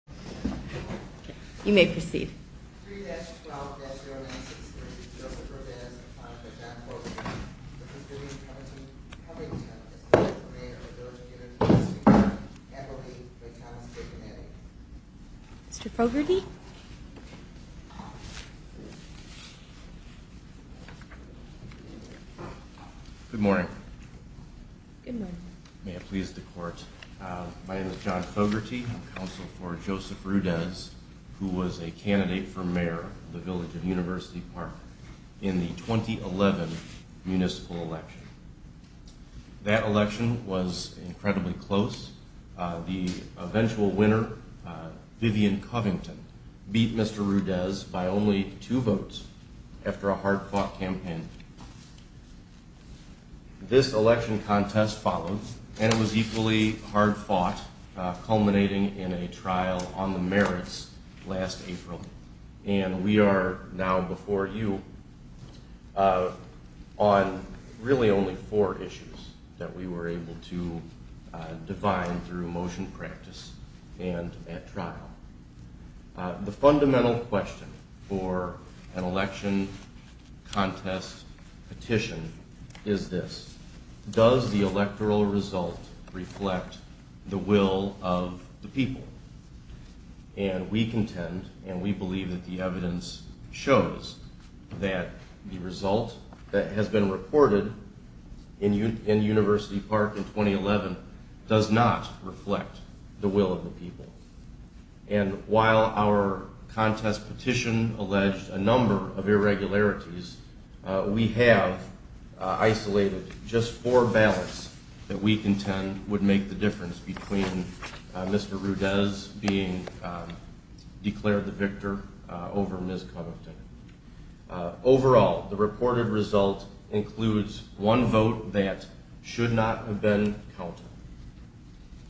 3-12-0963 Joseph Ordonez, son of John Fogarty, the President of Covington, is the 4th Mayor of the Village of Unitellis, New York. Appellate by Thomas J. Gennady Joseph Ordonez, son of John Fogarty, the President of Covington, is the 4th Mayor of the Village of Unitellis, New York. Appellate by Thomas J. Gennady Appellate by Thomas J. Gennady, son of John Fogarty, the President of Covington, is the 4th Mayor of the Village of Unitellis, New York. culminating in a trial on the merits last April, and we are now before you on really only four issues that we were able to define through motion practice and at trial. The fundamental question for an election contest petition is this, does the electoral result reflect the will of the people? And we contend and we believe that the evidence shows that the result that has been reported in University Park in 2011 does not reflect the will of the people. And while our contest petition alleged a number of irregularities, we have isolated just four ballots that we contend would make the difference between Mr. Rudez being declared the victor over Ms. Covington. Overall, the reported result includes one vote that should not have been counted,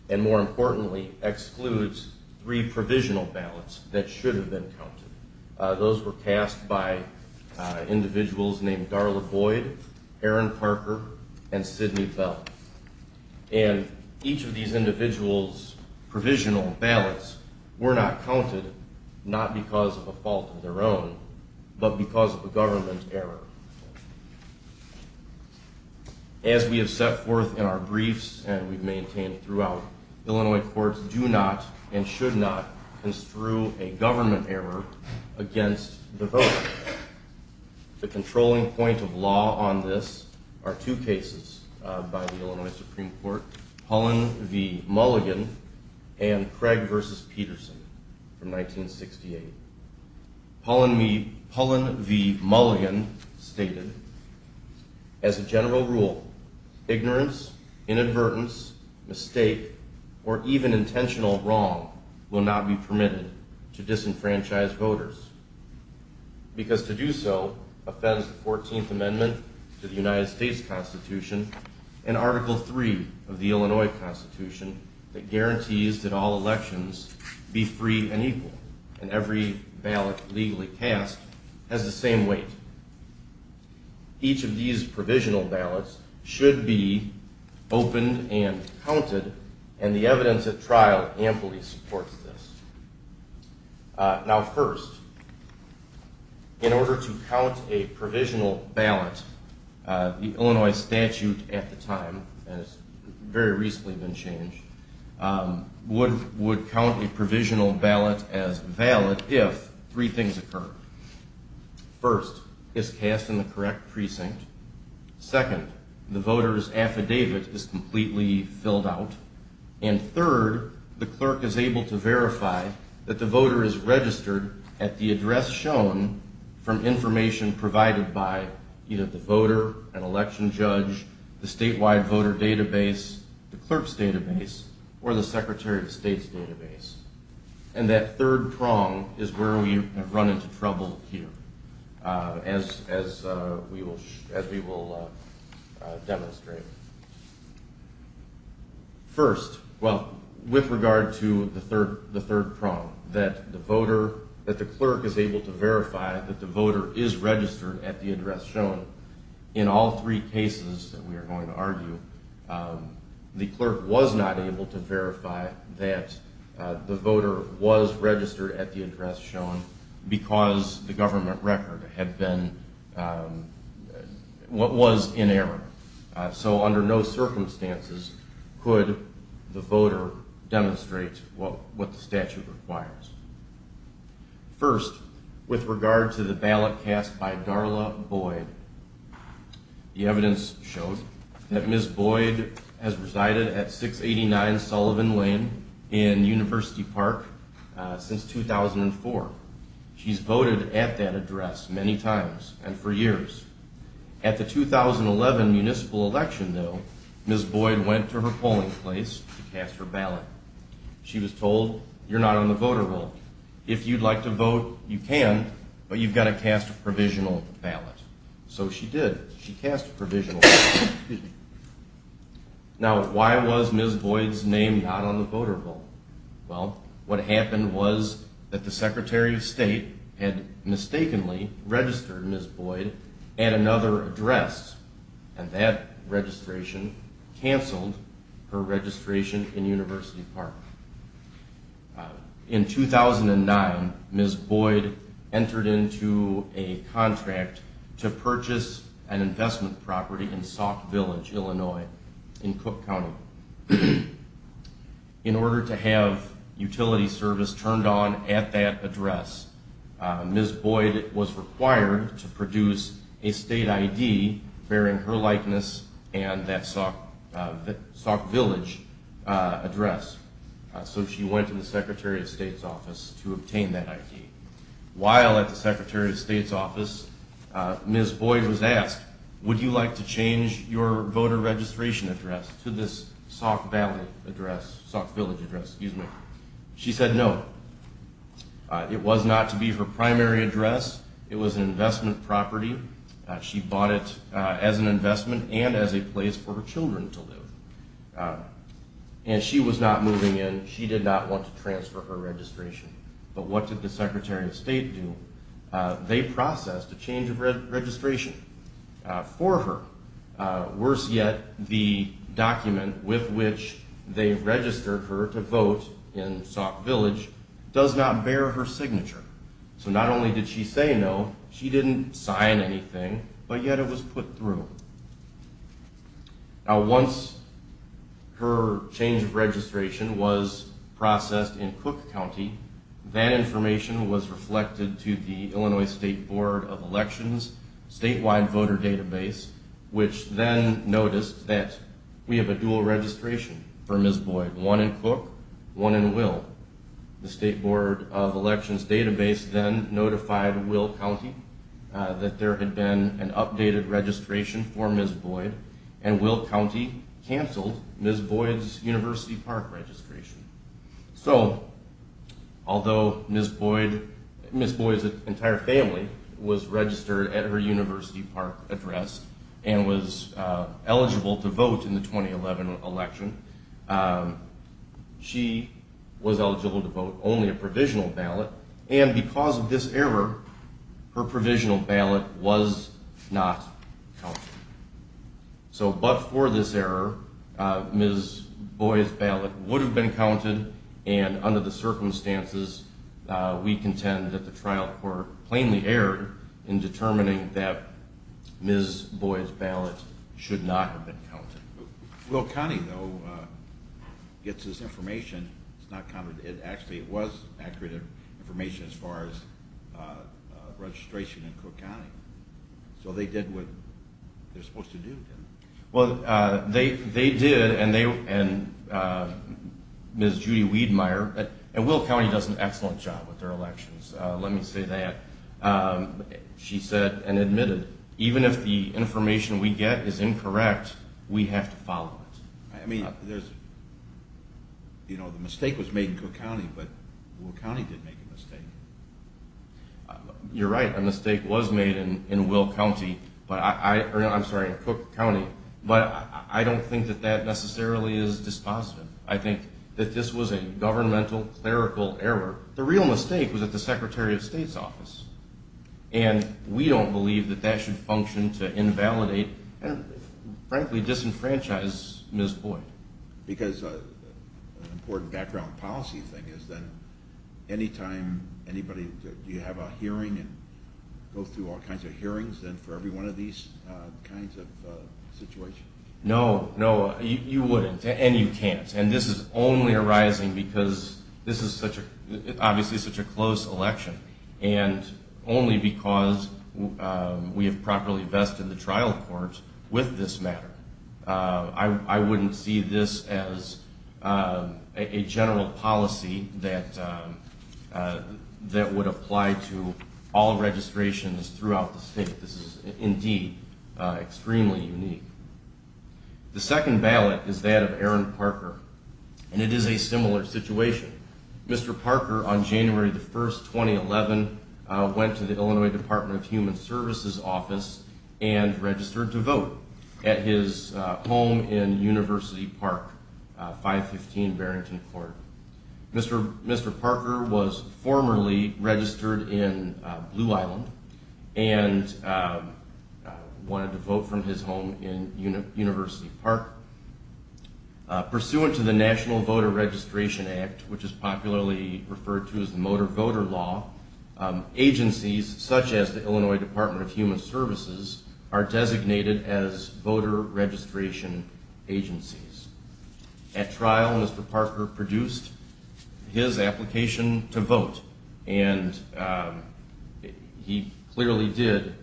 and more importantly excludes three provisional ballots that should have been counted. Those were cast by individuals named Darla Boyd, Aaron Parker, and Sidney Bell. And each of these individuals' provisional ballots were not counted, not because of a fault of their own, but because of a government error. As we have set forth in our briefs and we've maintained throughout, Illinois courts do not and should not construe a government error against the vote. The controlling point of law on this are two cases by the Illinois Supreme Court, Pullen v. Mulligan and Craig v. Peterson from 1968. Pullen v. Mulligan stated, as a general rule, ignorance, inadvertence, mistake, or even intentional wrong will not be permitted to disenfranchise voters. Because to do so offends the 14th Amendment to the United States Constitution and Article 3 of the Illinois Constitution that guarantees that all elections be free and equal and every ballot legally cast has the same weight. Each of these provisional ballots should be opened and counted, and the evidence at trial amply supports this. Now first, in order to count a provisional ballot, the Illinois statute at the time, and it's very recently been changed, would count a provisional ballot as valid if three things occur. First, it's cast in the correct precinct. Second, the voter's affidavit is completely filled out. And third, the clerk is able to verify that the voter is registered at the address shown from information provided by either the voter, an election judge, the statewide voter database, the clerk's database, or the Secretary of State's database. And that third prong is where we have run into trouble here, as we will demonstrate. First, well, with regard to the third prong, that the voter, that the clerk is able to verify that the voter is registered at the address shown, in all three cases that we are going to argue, the clerk was not able to verify that the voter was registered at the address shown because the government record had been, was in error. So under no circumstances could the voter demonstrate what the statute requires. First, with regard to the ballot cast by Darla Boyd, the evidence shows that Ms. Boyd has resided at 689 Sullivan Lane in University Park since 2004. She's voted at that address many times and for years. At the 2011 municipal election, though, Ms. Boyd went to her polling place to cast her ballot. She was told, you're not on the voter roll. If you'd like to vote, you can, but you've got to cast a provisional ballot. So she did. She cast a provisional ballot. Now, why was Ms. Boyd's name not on the voter roll? Well, what happened was that the Secretary of State had mistakenly registered Ms. Boyd at another address, and that registration canceled her registration in University Park. In 2009, Ms. Boyd entered into a contract to purchase an investment property in Sauk Village, Illinois, in Cook County. In order to have utility service turned on at that address, Ms. Boyd was required to produce a state ID bearing her likeness and that Sauk Village address. So she went to the Secretary of State's office to obtain that ID. While at the Secretary of State's office, Ms. Boyd was asked, would you like to change your voter registration address to this Sauk Valley address, Sauk Village address, excuse me. She said no. It was not to be her primary address. It was an investment property. She bought it as an investment and as a place for her children to live. And she was not moving in. She did not want to transfer her registration. But what did the Secretary of State do? They processed a change of registration for her. Worse yet, the document with which they registered her to vote in Sauk Village does not bear her signature. So not only did she say no, she didn't sign anything, but yet it was put through. Now once her change of registration was processed in Cook County, that information was reflected to the Illinois State Board of Elections statewide voter database, which then noticed that we have a dual registration for Ms. Boyd, one in Cook, one in Will. The State Board of Elections database then notified Will County that there had been an updated registration for Ms. Boyd, and Will County canceled Ms. Boyd's University Park registration. So although Ms. Boyd's entire family was registered at her University Park address and was eligible to vote in the 2011 election, she was eligible to vote only a provisional ballot, and because of this error, her provisional ballot was not counted. So but for this error, Ms. Boyd's ballot would have been counted, and under the circumstances, we contend that the trial court plainly erred in determining that Ms. Boyd's ballot should not have been counted. Will County, though, gets this information. It's not counted. Actually, it was accurate information as far as registration in Cook County. So they did what they're supposed to do, didn't they? Well, they did, and Ms. Judy Wiedemeyer, and Will County does an excellent job with their elections. Let me say that. She said and admitted, even if the information we get is incorrect, we have to follow it. I mean, there's, you know, the mistake was made in Cook County, but Will County didn't make a mistake. You're right, a mistake was made in Cook County, but I don't think that that necessarily is dispositive. I think that this was a governmental, clerical error. The real mistake was at the Secretary of State's office, and we don't believe that that should function to invalidate and frankly disenfranchise Ms. Boyd. Because an important background policy thing is that any time anybody, do you have a hearing and go through all kinds of hearings then for every one of these kinds of situations? No, no, you wouldn't, and you can't. And this is only arising because this is such a, obviously such a close election, and only because we have properly vested the trial court with this matter. I wouldn't see this as a general policy that would apply to all registrations throughout the state. This is indeed extremely unique. The second ballot is that of Aaron Parker, and it is a similar situation. Mr. Parker, on January the 1st, 2011, went to the Illinois Department of Human Services office and registered to vote at his home in University Park, 515 Barrington Court. Mr. Parker was formerly registered in Blue Island and wanted to vote from his home in University Park. Pursuant to the National Voter Registration Act, which is popularly referred to as the Motor Voter Law, agencies such as the Illinois Department of Human Services are designated as voter registration agencies. At trial, Mr. Parker produced his application to vote, and he clearly did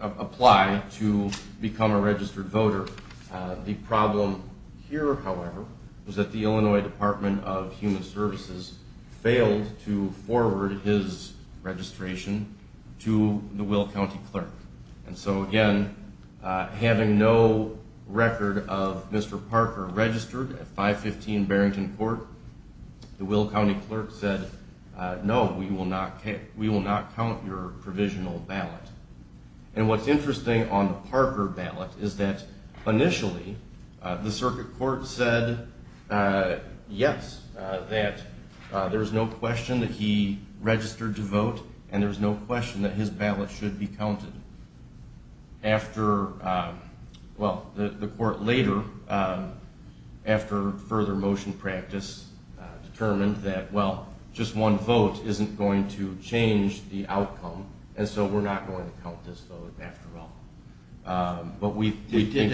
apply to become a registered voter. The problem here, however, was that the Illinois Department of Human Services failed to forward his registration to the Will County Clerk. And so, again, having no record of Mr. Parker registered at 515 Barrington Court, the Will County Clerk said, no, we will not count your provisional ballot. And what's interesting on the Parker ballot is that initially, the circuit court said, yes, that there's no question that he registered to vote, and there's no question that his ballot should be counted. And after, well, the court later, after further motion practice, determined that, well, just one vote isn't going to change the outcome, and so we're not going to count this vote after all. They did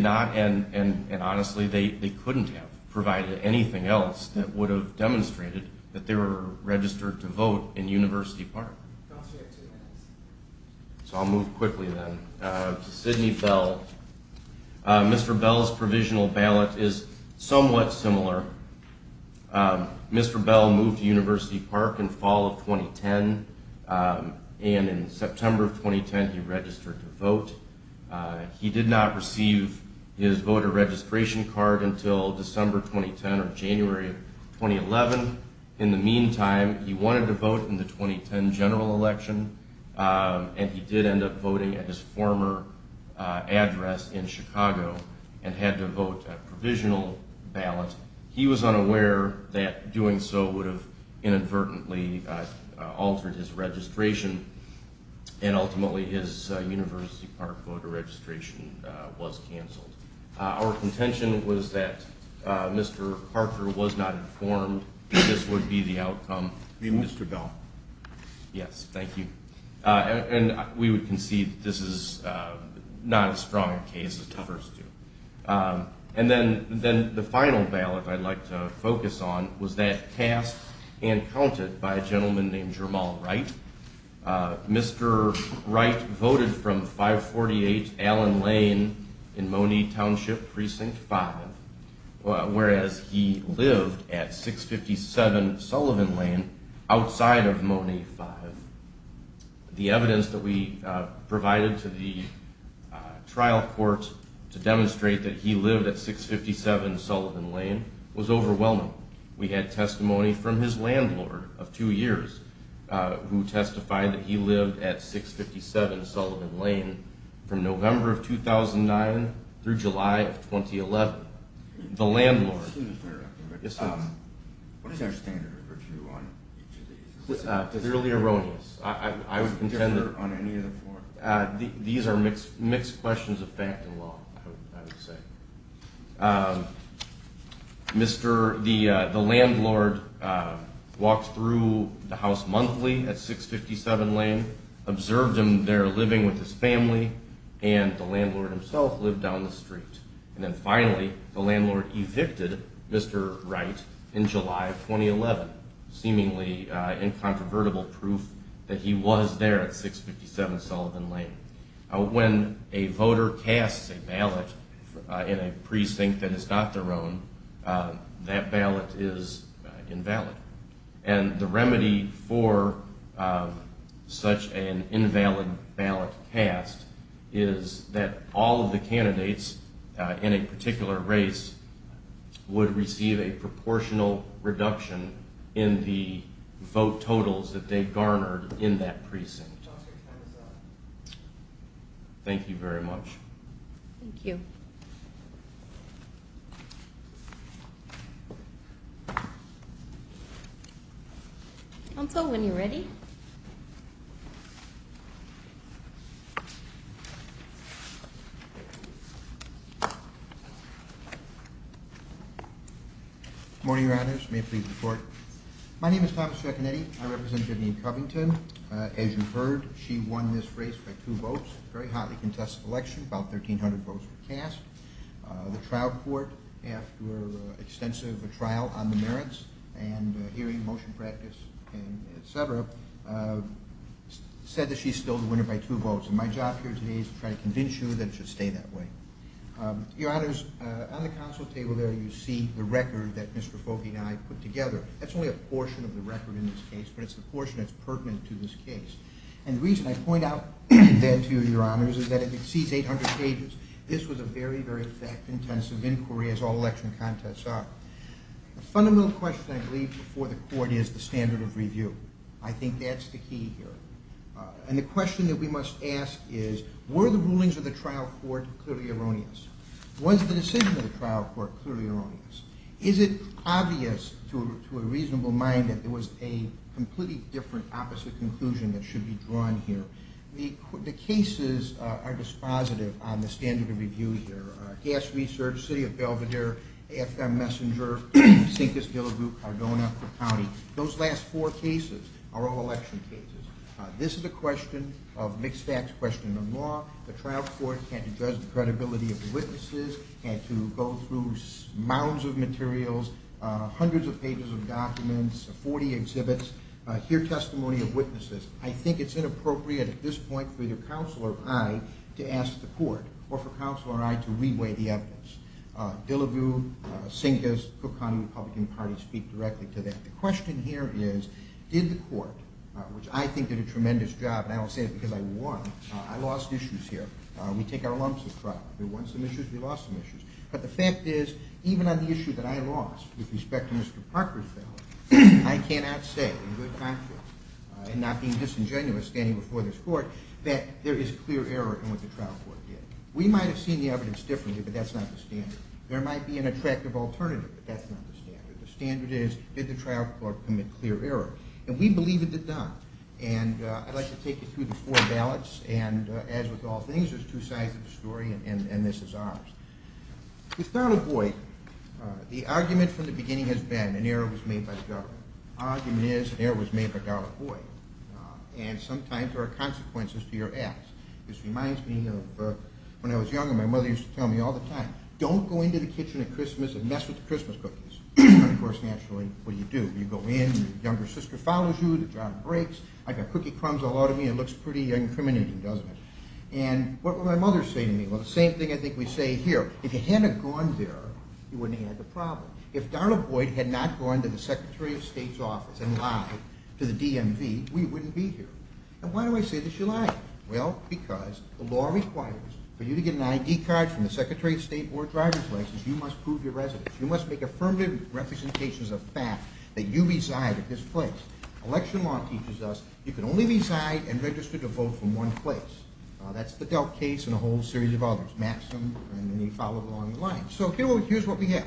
not. And honestly, they couldn't have provided anything else that would have demonstrated that they were registered to vote in University Park. So I'll move quickly then to Sidney Bell. Mr. Bell's provisional ballot is somewhat similar. Mr. Bell moved to University Park in fall of 2010, and in September of 2010, he registered to vote. He did not receive his voter registration card until December 2010 or January of 2011. In the meantime, he wanted to vote in the 2010 general election, and he did end up voting at his former address in Chicago and had to vote a provisional ballot. He was unaware that doing so would have inadvertently altered his registration, and ultimately his University Park voter registration was canceled. Our contention was that Mr. Parker was not informed that this would be the outcome. Mr. Bell. Yes, thank you. And we would concede that this is not as strong a case as the first two. And then the final ballot I'd like to focus on was that cast and counted by a gentleman named Jermall Wright. Mr. Wright voted from 548 Allen Lane in Monee Township Precinct 5, whereas he lived at 657 Sullivan Lane outside of Monee 5. The evidence that we provided to the trial court to demonstrate that he lived at 657 Sullivan Lane was overwhelming. We had testimony from his landlord of two years, who testified that he lived at 657 Sullivan Lane from November of 2009 through July of 2011. The landlord. What is our standard of review on each of these? Fairly erroneous. I would contend that these are mixed questions of fact and law, I would say. The landlord walked through the house monthly at 657 Lane, observed him there living with his family, and the landlord himself lived down the street. And then finally, the landlord evicted Mr. Wright in July of 2011, seemingly incontrovertible proof that he was there at 657 Sullivan Lane. When a voter casts a ballot in a precinct that is not their own, that ballot is invalid. And the remedy for such an invalid ballot cast is that all of the candidates in a particular race would receive a proportional reduction in the vote totals that they garnered in that precinct. Thank you very much. Thank you. Uncle, when you're ready. Good morning, your honors. May I please report? My name is Thomas Chaconetti. I represent Vivian Covington. As you've heard, she won this race by two votes, very highly contested election, about 1,300 votes cast. The trial court, after extensive trial on the merits and hearing motion practice and et cetera, said that she's still the winner by two votes. And my job here today is to try to convince you that it should stay that way. Your honors, on the council table there you see the record that Mr. Fogge and I put together. That's only a portion of the record in this case, but it's the portion that's pertinent to this case. And the reason I point out that to you, your honors, is that it exceeds 800 pages. This was a very, very fact-intensive inquiry, as all election contests are. The fundamental question I believe before the court is the standard of review. I think that's the key here. And the question that we must ask is, were the rulings of the trial court clearly erroneous? Was the decision of the trial court clearly erroneous? Is it obvious to a reasonable mind that there was a completely different opposite conclusion that should be drawn here? The cases are dispositive on the standard of review here. Gas Research, City of Belvidere, AFM Messenger, Sinkist-Hillegoop, Cardona County. Those last four cases are all election cases. This is a question of mixed-facts question of law. The trial court had to judge the credibility of the witnesses, had to go through mounds of materials, hundreds of pages of documents, 40 exhibits, hear testimony of witnesses. I think it's inappropriate at this point for either counsel or I to ask the court or for counsel or I to re-weigh the evidence. Dillevue, Sinkist, Cook County Republican Party speak directly to that. The question here is, did the court, which I think did a tremendous job, and I don't say it because I won, I lost issues here. We take our lumps with trial. We won some issues, we lost some issues. But the fact is, even on the issue that I lost with respect to Mr. Parker's failure, I cannot say in good conscience, and not being disingenuous standing before this court, that there is clear error in what the trial court did. We might have seen the evidence differently, but that's not the standard. There might be an attractive alternative, but that's not the standard. The standard is, did the trial court commit clear error? And we believe it did not. And I'd like to take you through the four ballots, and as with all things, there's two sides of the story, and this is ours. With Donald Boyd, the argument from the beginning has been an error was made by the government. The argument is an error was made by Donald Boyd, and sometimes there are consequences to your acts. This reminds me of when I was younger, my mother used to tell me all the time, don't go into the kitchen at Christmas and mess with the Christmas cookies. And of course, naturally, what do you do? You go in, your younger sister follows you, the jar breaks, I've got cookie crumbs all over me, it looks pretty incriminating, doesn't it? And what would my mother say to me? Well, the same thing I think we say here. If you hadn't gone there, you wouldn't have had the problem. If Donald Boyd had not gone to the Secretary of State's office and lied to the DMV, we wouldn't be here. And why do I say this? You're lying. Well, because the law requires for you to get an ID card from the Secretary of State or a driver's license, you must prove you're resident. You must make affirmative representations of fact that you reside at this place. Election law teaches us you can only reside and register to vote from one place. That's the Delk case and a whole series of others, Maxim, and then you follow along the line. So here's what we have.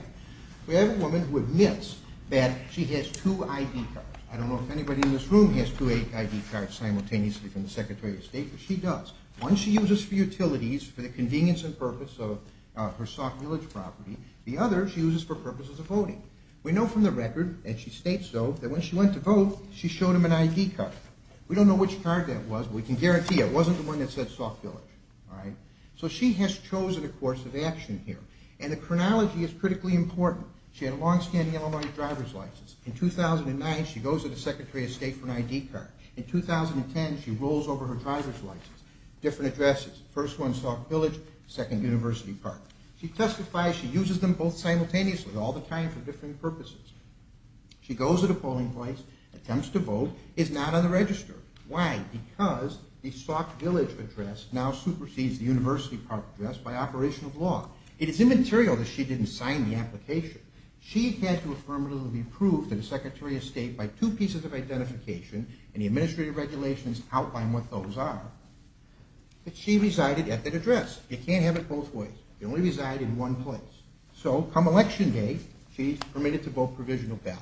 We have a woman who admits that she has two ID cards. I don't know if anybody in this room has two ID cards simultaneously from the Secretary of State, but she does. One she uses for utilities, for the convenience and purpose of her Soft Village property, the other she uses for purposes of voting. We know from the record, and she states so, that when she went to vote, she showed him an ID card. We don't know which card that was, but we can guarantee it wasn't the one that said Soft Village. So she has chosen a course of action here. And the chronology is critically important. She had a long-standing Illinois driver's license. In 2009, she goes to the Secretary of State for an ID card. In 2010, she rolls over her driver's license. Different addresses. First one, Soft Village, second, University Park. She testifies, she uses them both simultaneously all the time for different purposes. She goes to the polling place, attempts to vote, is not on the register. Why? Because the Soft Village address now supersedes the University Park address by operation of law. It is immaterial that she didn't sign the application. She had to affirmatively prove to the Secretary of State by two pieces of identification, and the administrative regulations outline what those are. But she resided at that address. You can't have it both ways. You can only reside in one place. So, come election day, she's permitted to vote provisional ballot.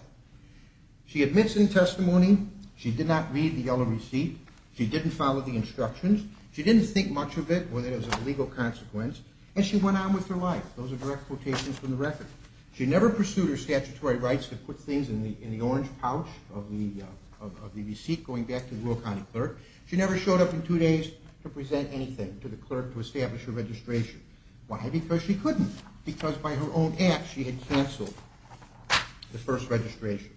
She admits in testimony she did not read the yellow receipt. She didn't follow the instructions. She didn't think much of it, whether it was a legal consequence. And she went on with her life. Those are direct quotations from the record. She never pursued her statutory rights to put things in the orange pouch of the receipt going back to the rural county clerk. She never showed up in two days to present anything to the clerk to establish her registration. Why? Because she couldn't. Because by her own act, she had canceled the first registration.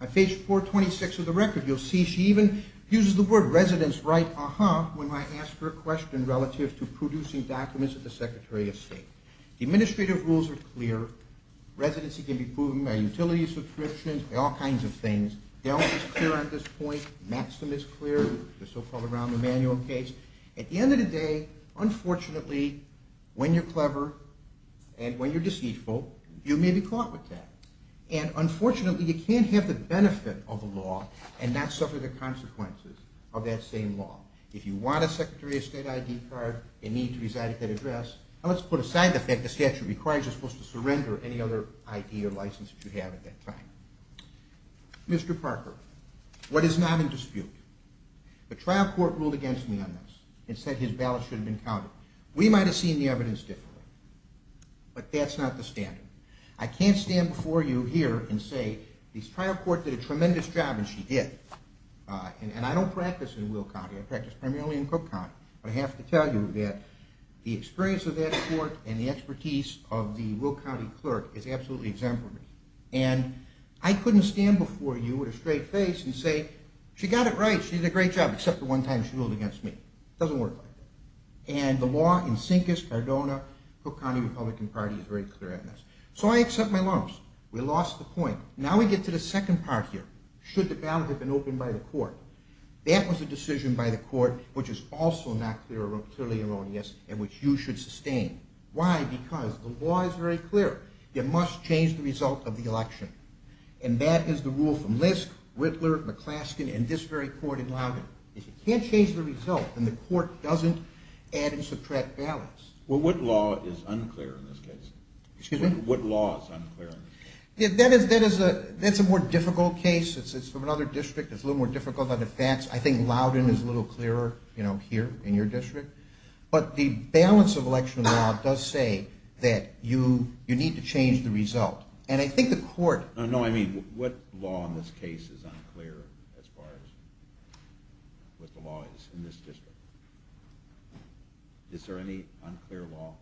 On page 426 of the record, you'll see she even uses the word residence right, uh-huh, when I ask her a question relative to producing documents at the Secretary of State. Administrative rules are clear. Residency can be proven by utility subscriptions, all kinds of things. Delta's clear at this point. Maxim is clear, the so-called round-the-manual case. At the end of the day, unfortunately, when you're clever and when you're deceitful, you may be caught with that. And unfortunately, you can't have the benefit of a law and not suffer the consequences of that same law. If you want a Secretary of State ID card and need to reside at that address, now let's put aside the fact the statute requires you're supposed to surrender any other ID or license that you have at that time. Mr. Parker, what is not in dispute? The trial court ruled against me on this. It said his ballots should have been counted. We might have seen the evidence differently. But that's not the standard. I can't stand before you here and say the trial court did a tremendous job, and she did. And I don't practice in Will County, I practice primarily in Cook County. But I have to tell you that the experience of that court and the expertise of the Will County clerk is absolutely exemplary. And I couldn't stand before you with a straight face and say, she got it right, she did a great job, except the one time she ruled against me. It doesn't work like that. And the law in Sincus, Cardona, Cook County Republican Party is very clear on this. So I accept my loss. We lost the point. Now we get to the second part here. Should the ballot have been opened by the court? That was a decision by the court which is also not clearly erroneous and which you should sustain. Why? Because the law is very clear. It must change the result of the election. And that is the rule from Lisk, Whittler, McClaskin, and this very court in Loudoun. If you can't change the result, then the court doesn't add and subtract ballots. Well, what law is unclear in this case? Excuse me? What law is unclear? That's a more difficult case. It's from another district. It's a little more difficult on the facts. I think Loudoun is a little clearer, you know, here in your district. But the balance of election law does say that you need to change the result. And I think the court... No, I mean, what law in this case is unclear as far as what the law is in this district? Is there any unclear law?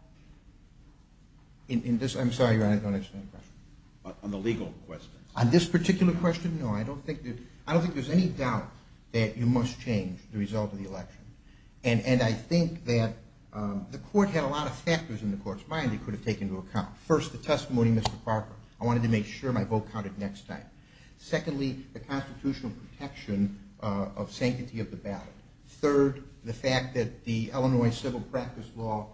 I'm sorry, Your Honor, I don't understand your question. On the legal questions. On this particular question, no. I don't think there's any doubt that you must change the result of the election. And I think that the court had a lot of factors in the court's mind it could have taken into account. First, the testimony, Mr. Parker. I wanted to make sure my vote counted next time. Secondly, the constitutional protection of sanctity of the ballot. Third, the fact that the Illinois civil practice law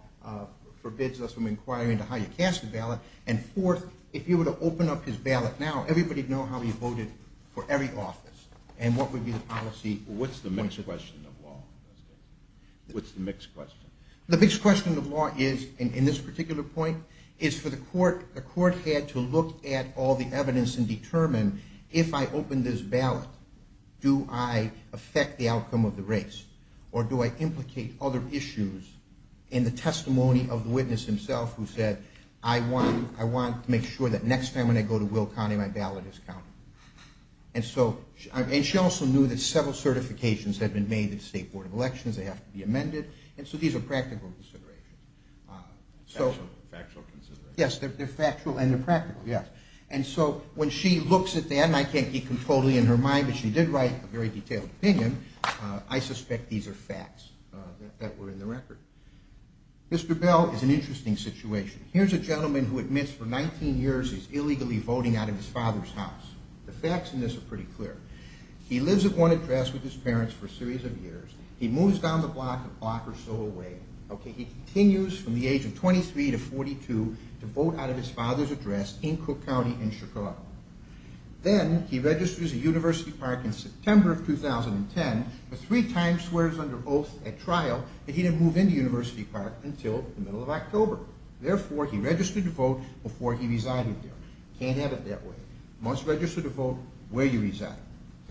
forbids us from inquiring into how you cast a ballot. And fourth, if you were to open up his ballot now, everybody would know how he voted for every office. And what would be the policy... What's the mixed question? The mixed question of law is, in this particular point, is for the court... The court had to look at all the evidence and determine, if I open this ballot, do I affect the outcome of the race? Or do I implicate other issues in the testimony of the witness himself who said, I want to make sure that next time when I go to Will County, my ballot is counted. And she also knew that several certifications had been made to the State Board of Elections. They have to be amended. And so these are practical considerations. Factual considerations. Yes, they're factual and they're practical. And so when she looks at that, and I can't keep them totally in her mind, but she did write a very detailed opinion, I suspect these are facts that were in the record. Mr. Bell is an interesting situation. Here's a gentleman who admits for 19 years he's illegally voting out of his father's house. The facts in this are pretty clear. He lives at one address with his parents for a series of years. He moves down the block a block or so away. He continues from the age of 23 to 42 to vote out of his father's address in Cook County in Chicago. Then he registers at University Park in September of 2010, but three times swears under oath at trial that he didn't move into University Park until the middle of October. He registered to vote before he resided there. You can't have it that way. You must register to vote where you reside.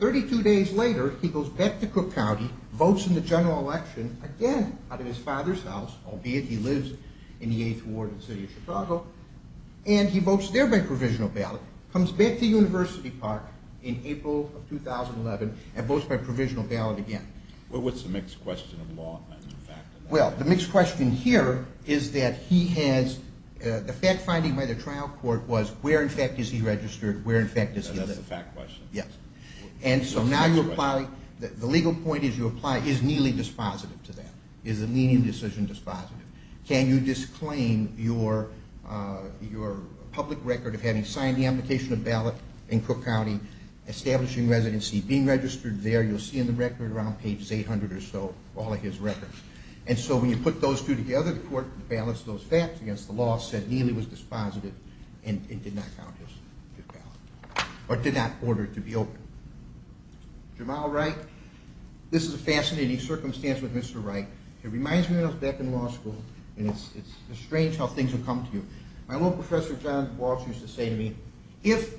32 days later, he goes back to Cook County, votes in the general election, again out of his father's house, albeit he lives in the 8th Ward in the city of Chicago, and he votes there by provisional ballot, comes back to University Park in April of 2011, and votes by provisional ballot again. What's the mixed question of law and fact in that? Well, the mixed question here is that he has, the fact finding by the trial court was, where in fact is he registered, where in fact is he living? And that's the fact question? Yes. And so now you apply, the legal point is you apply, is Neely dispositive to that? Is the Neely decision dispositive? Can you disclaim your public record of having signed the amnication of ballot in Cook County, establishing residency, being registered there, you'll see in the record around page 800 or so, all of his records. And so when you put those two together, the court balanced those facts against the law, said Neely was dispositive and did not count his ballot, or did not order it to be opened. Jamal Wright, this is a fascinating circumstance with Mr. Wright. It reminds me of when I was back in law school, and it's strange how things will come to you. My old professor John Walsh used to say to me, if,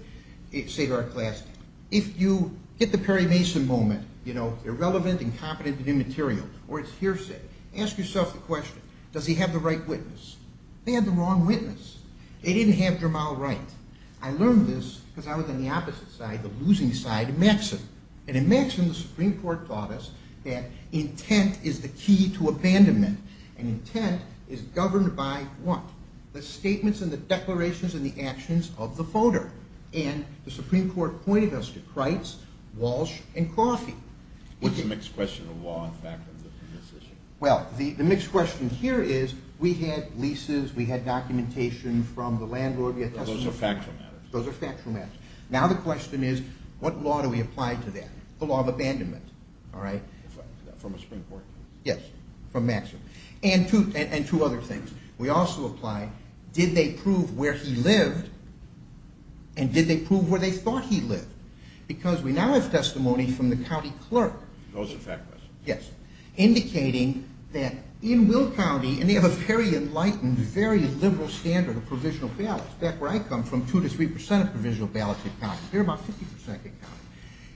say to our class, if you get the Perry Mason moment, you know, irrelevant, incompetent, and immaterial, or it's hearsay, ask yourself the question, does he have the right witness? They had the wrong witness. They didn't have Jamal Wright. I learned this because I was on the opposite side, the losing side, of Maxon. And in Maxon, the Supreme Court taught us that intent is the key to abandonment. And intent is governed by what? The statements and the declarations and the actions of the voter. And the Supreme Court pointed us to Crites, Walsh, and Coffey. What's the mixed question of law and fact in this issue? Well, the mixed question here is, we had leases, we had documentation from the landlord. Those are factual matters. Those are factual matters. Now the question is, what law do we apply to that? The law of abandonment. From a Supreme Court? Yes, from Maxon. And two other things. We also apply, did they prove where he lived, and did they prove where they thought he lived? Because we now have testimony from the county clerk. Those are factual matters. Yes. Indicating that in Will County, and they have a very enlightened, very liberal standard of provisional ballots. Back where I come from, 2-3% of provisional ballots get counted. Here, about 50% get counted.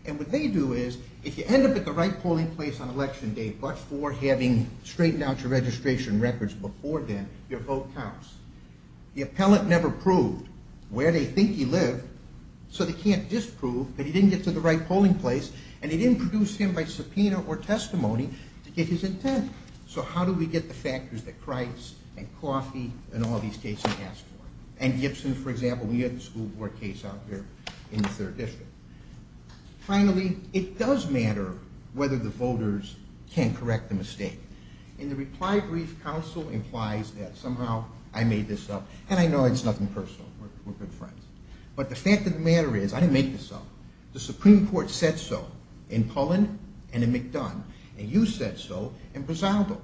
And what they do is, if you end up at the right polling place on election day, but for having straightened out your registration records before then, your vote counts. The appellant never proved where they think he lived, so they can't disprove that he didn't get to the right polling place, and they didn't produce him by subpoena or testimony to get his intent. So how do we get the factors that Crites and Coffey and all these cases ask for? And Gibson, for example, we had a school board case out here in the 3rd District. Finally, it does matter whether the voters can correct the mistake. And the reply brief counsel implies that somehow I made this up, and I know it's nothing personal. We're good friends. But the fact of the matter is, I didn't make this up. The Supreme Court said so in Pullen and in McDonough, and you said so in Brasaldo.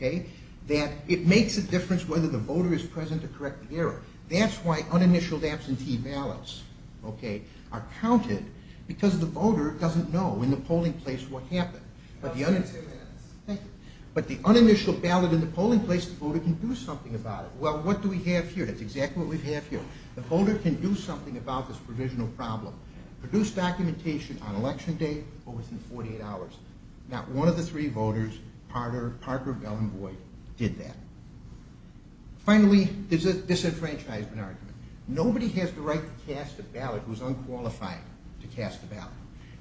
That it makes a difference whether the voter is present to correct the error. That's why uninitialed absentee ballots are counted, because the voter doesn't know in the polling place what happened. But the uninitialed ballot in the polling place, the voter can do something about it. Well, what do we have here? That's exactly what we have here. The voter can do something about this provisional problem. Produce documentation on election day or within 48 hours. Not one of the three voters, Parker, Bell, and Boyd, did that. Finally, there's a disenfranchisement argument. Nobody has the right to cast a ballot who is unqualified to cast a ballot.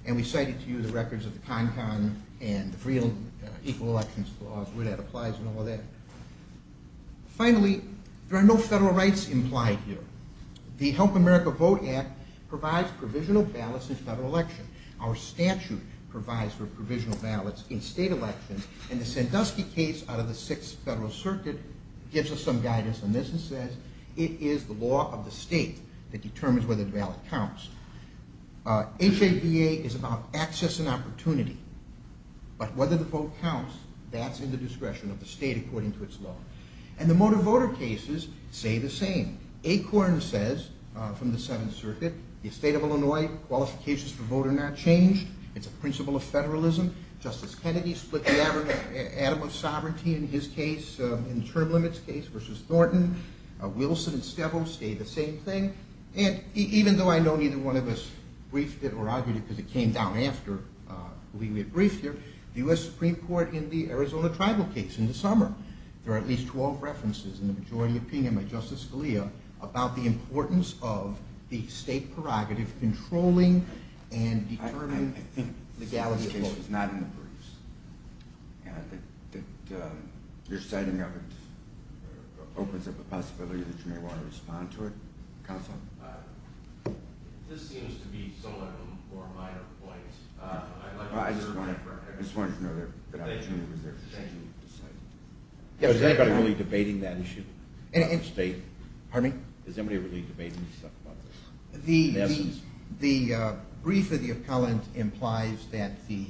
And we cited to you the records of the CONCON and the Equal Elections Clause, where that applies and all of that. Finally, there are no federal rights implied here. The Help America Vote Act provides provisional ballots in federal elections. Our statute provides for provisional ballots in state elections, and the Sandusky case out of the Sixth Federal Circuit gives us some guidance on this and says it is the law of the state that determines whether the ballot counts. H-A-B-A is about access and opportunity. But whether the vote counts, that's in the discretion of the state according to its law. And the motor voter cases say the same. Acorn says, from the Seventh Circuit, the state of Illinois, qualifications for vote are not changed. It's a principle of federalism. Justice Kennedy split the atom of sovereignty in his case, in the term limits case, versus Thornton. Wilson and Stevos say the same thing. And even though I know neither one of us briefed it or argued it, because it came down after we briefed here, the U.S. Supreme Court in the Arizona tribal case in the summer, there are at least 12 references in the majority opinion by Justice Scalia about the importance of the state prerogative controlling and determining legality of votes. I think this case is not in the briefs. Your citing of it opens up a possibility that you may want to respond to it. Counsel? This seems to be similar to four minor points. I just wanted to know if there was an opportunity to cite it. Is anybody really debating that issue? Pardon me? Is anybody really debating this? The brief of the appellant implies that the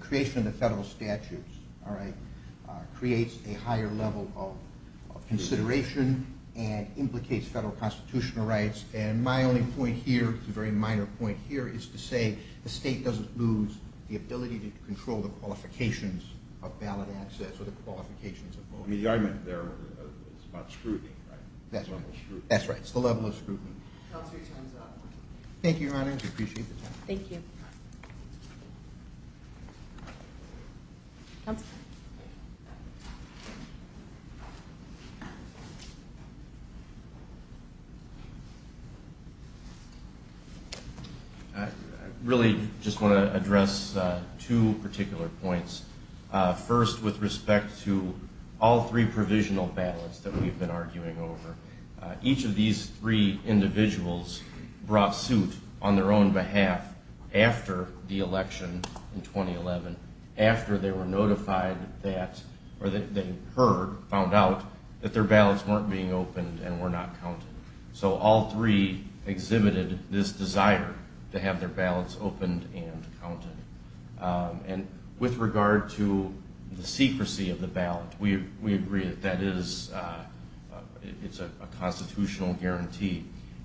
creation of the federal statutes creates a higher level of consideration and implicates federal constitutional rights. And my only point here, a very minor point here, is to say the state doesn't lose the ability to control the qualifications of ballot access or the qualifications of voting. The argument there is about scrutiny, right? That's right. It's the level of scrutiny. Counsel, your time is up. Thank you, Your Honor. I appreciate the time. Thank you. Counsel? I really just want to address two particular points. First, with respect to all three provisional ballots that we've been arguing over. Each of these three individuals brought suit on their own behalf after the election in 2011, after they were notified that, or that they heard, found out, that their ballots weren't being opened and were not counted. So all three exhibited this desire to have their ballots opened and counted. And with regard to the secrecy of the ballot, we agree that that is a constitutional guarantee.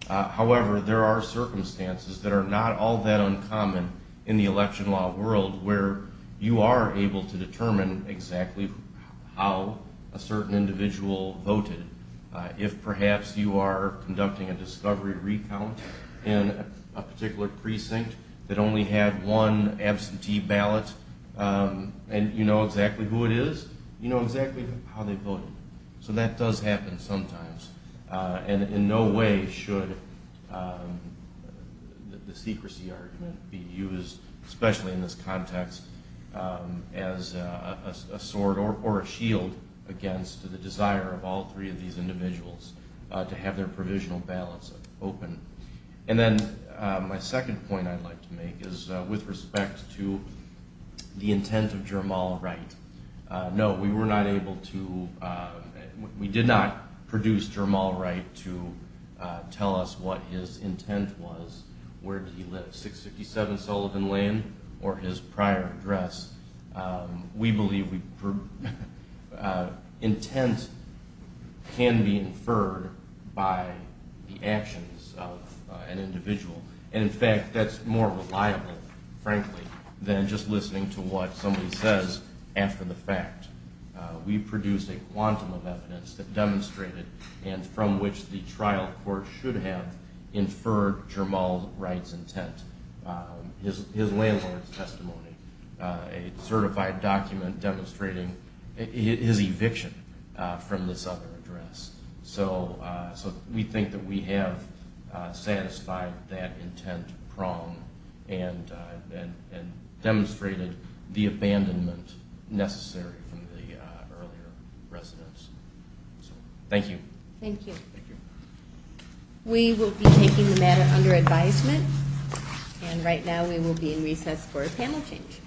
However, there are circumstances that are not all that uncommon in the election law world where you are able to determine exactly how a certain individual voted. If perhaps you are conducting a discovery recount in a particular precinct that only had one absentee ballot and you know exactly who it is, you know exactly how they voted. So that does happen sometimes. And in no way should the secrecy argument be used, especially in this context, as a sword or a shield against the desire of all three of these individuals to have their provisional ballots open. And then my second point I'd like to make is with respect to the intent of Jermall Wright. No, we were not able to, we did not produce Jermall Wright to tell us what his intent was, where did he live, 657 Sullivan Lane, or his prior address. We believe intent can be inferred by the actions of an individual. And in fact, that's more reliable, frankly, than just listening to what somebody says after the fact. We produced a quantum of evidence that demonstrated and from which the trial court should have inferred Jermall Wright's intent, his landlord's testimony, a certified document demonstrating his eviction from this other address. So we think that we have satisfied that intent prong and demonstrated the abandonment necessary from the earlier residents. Thank you. Thank you. We will be taking the matter under advisement and right now we will be in recess for a panel change.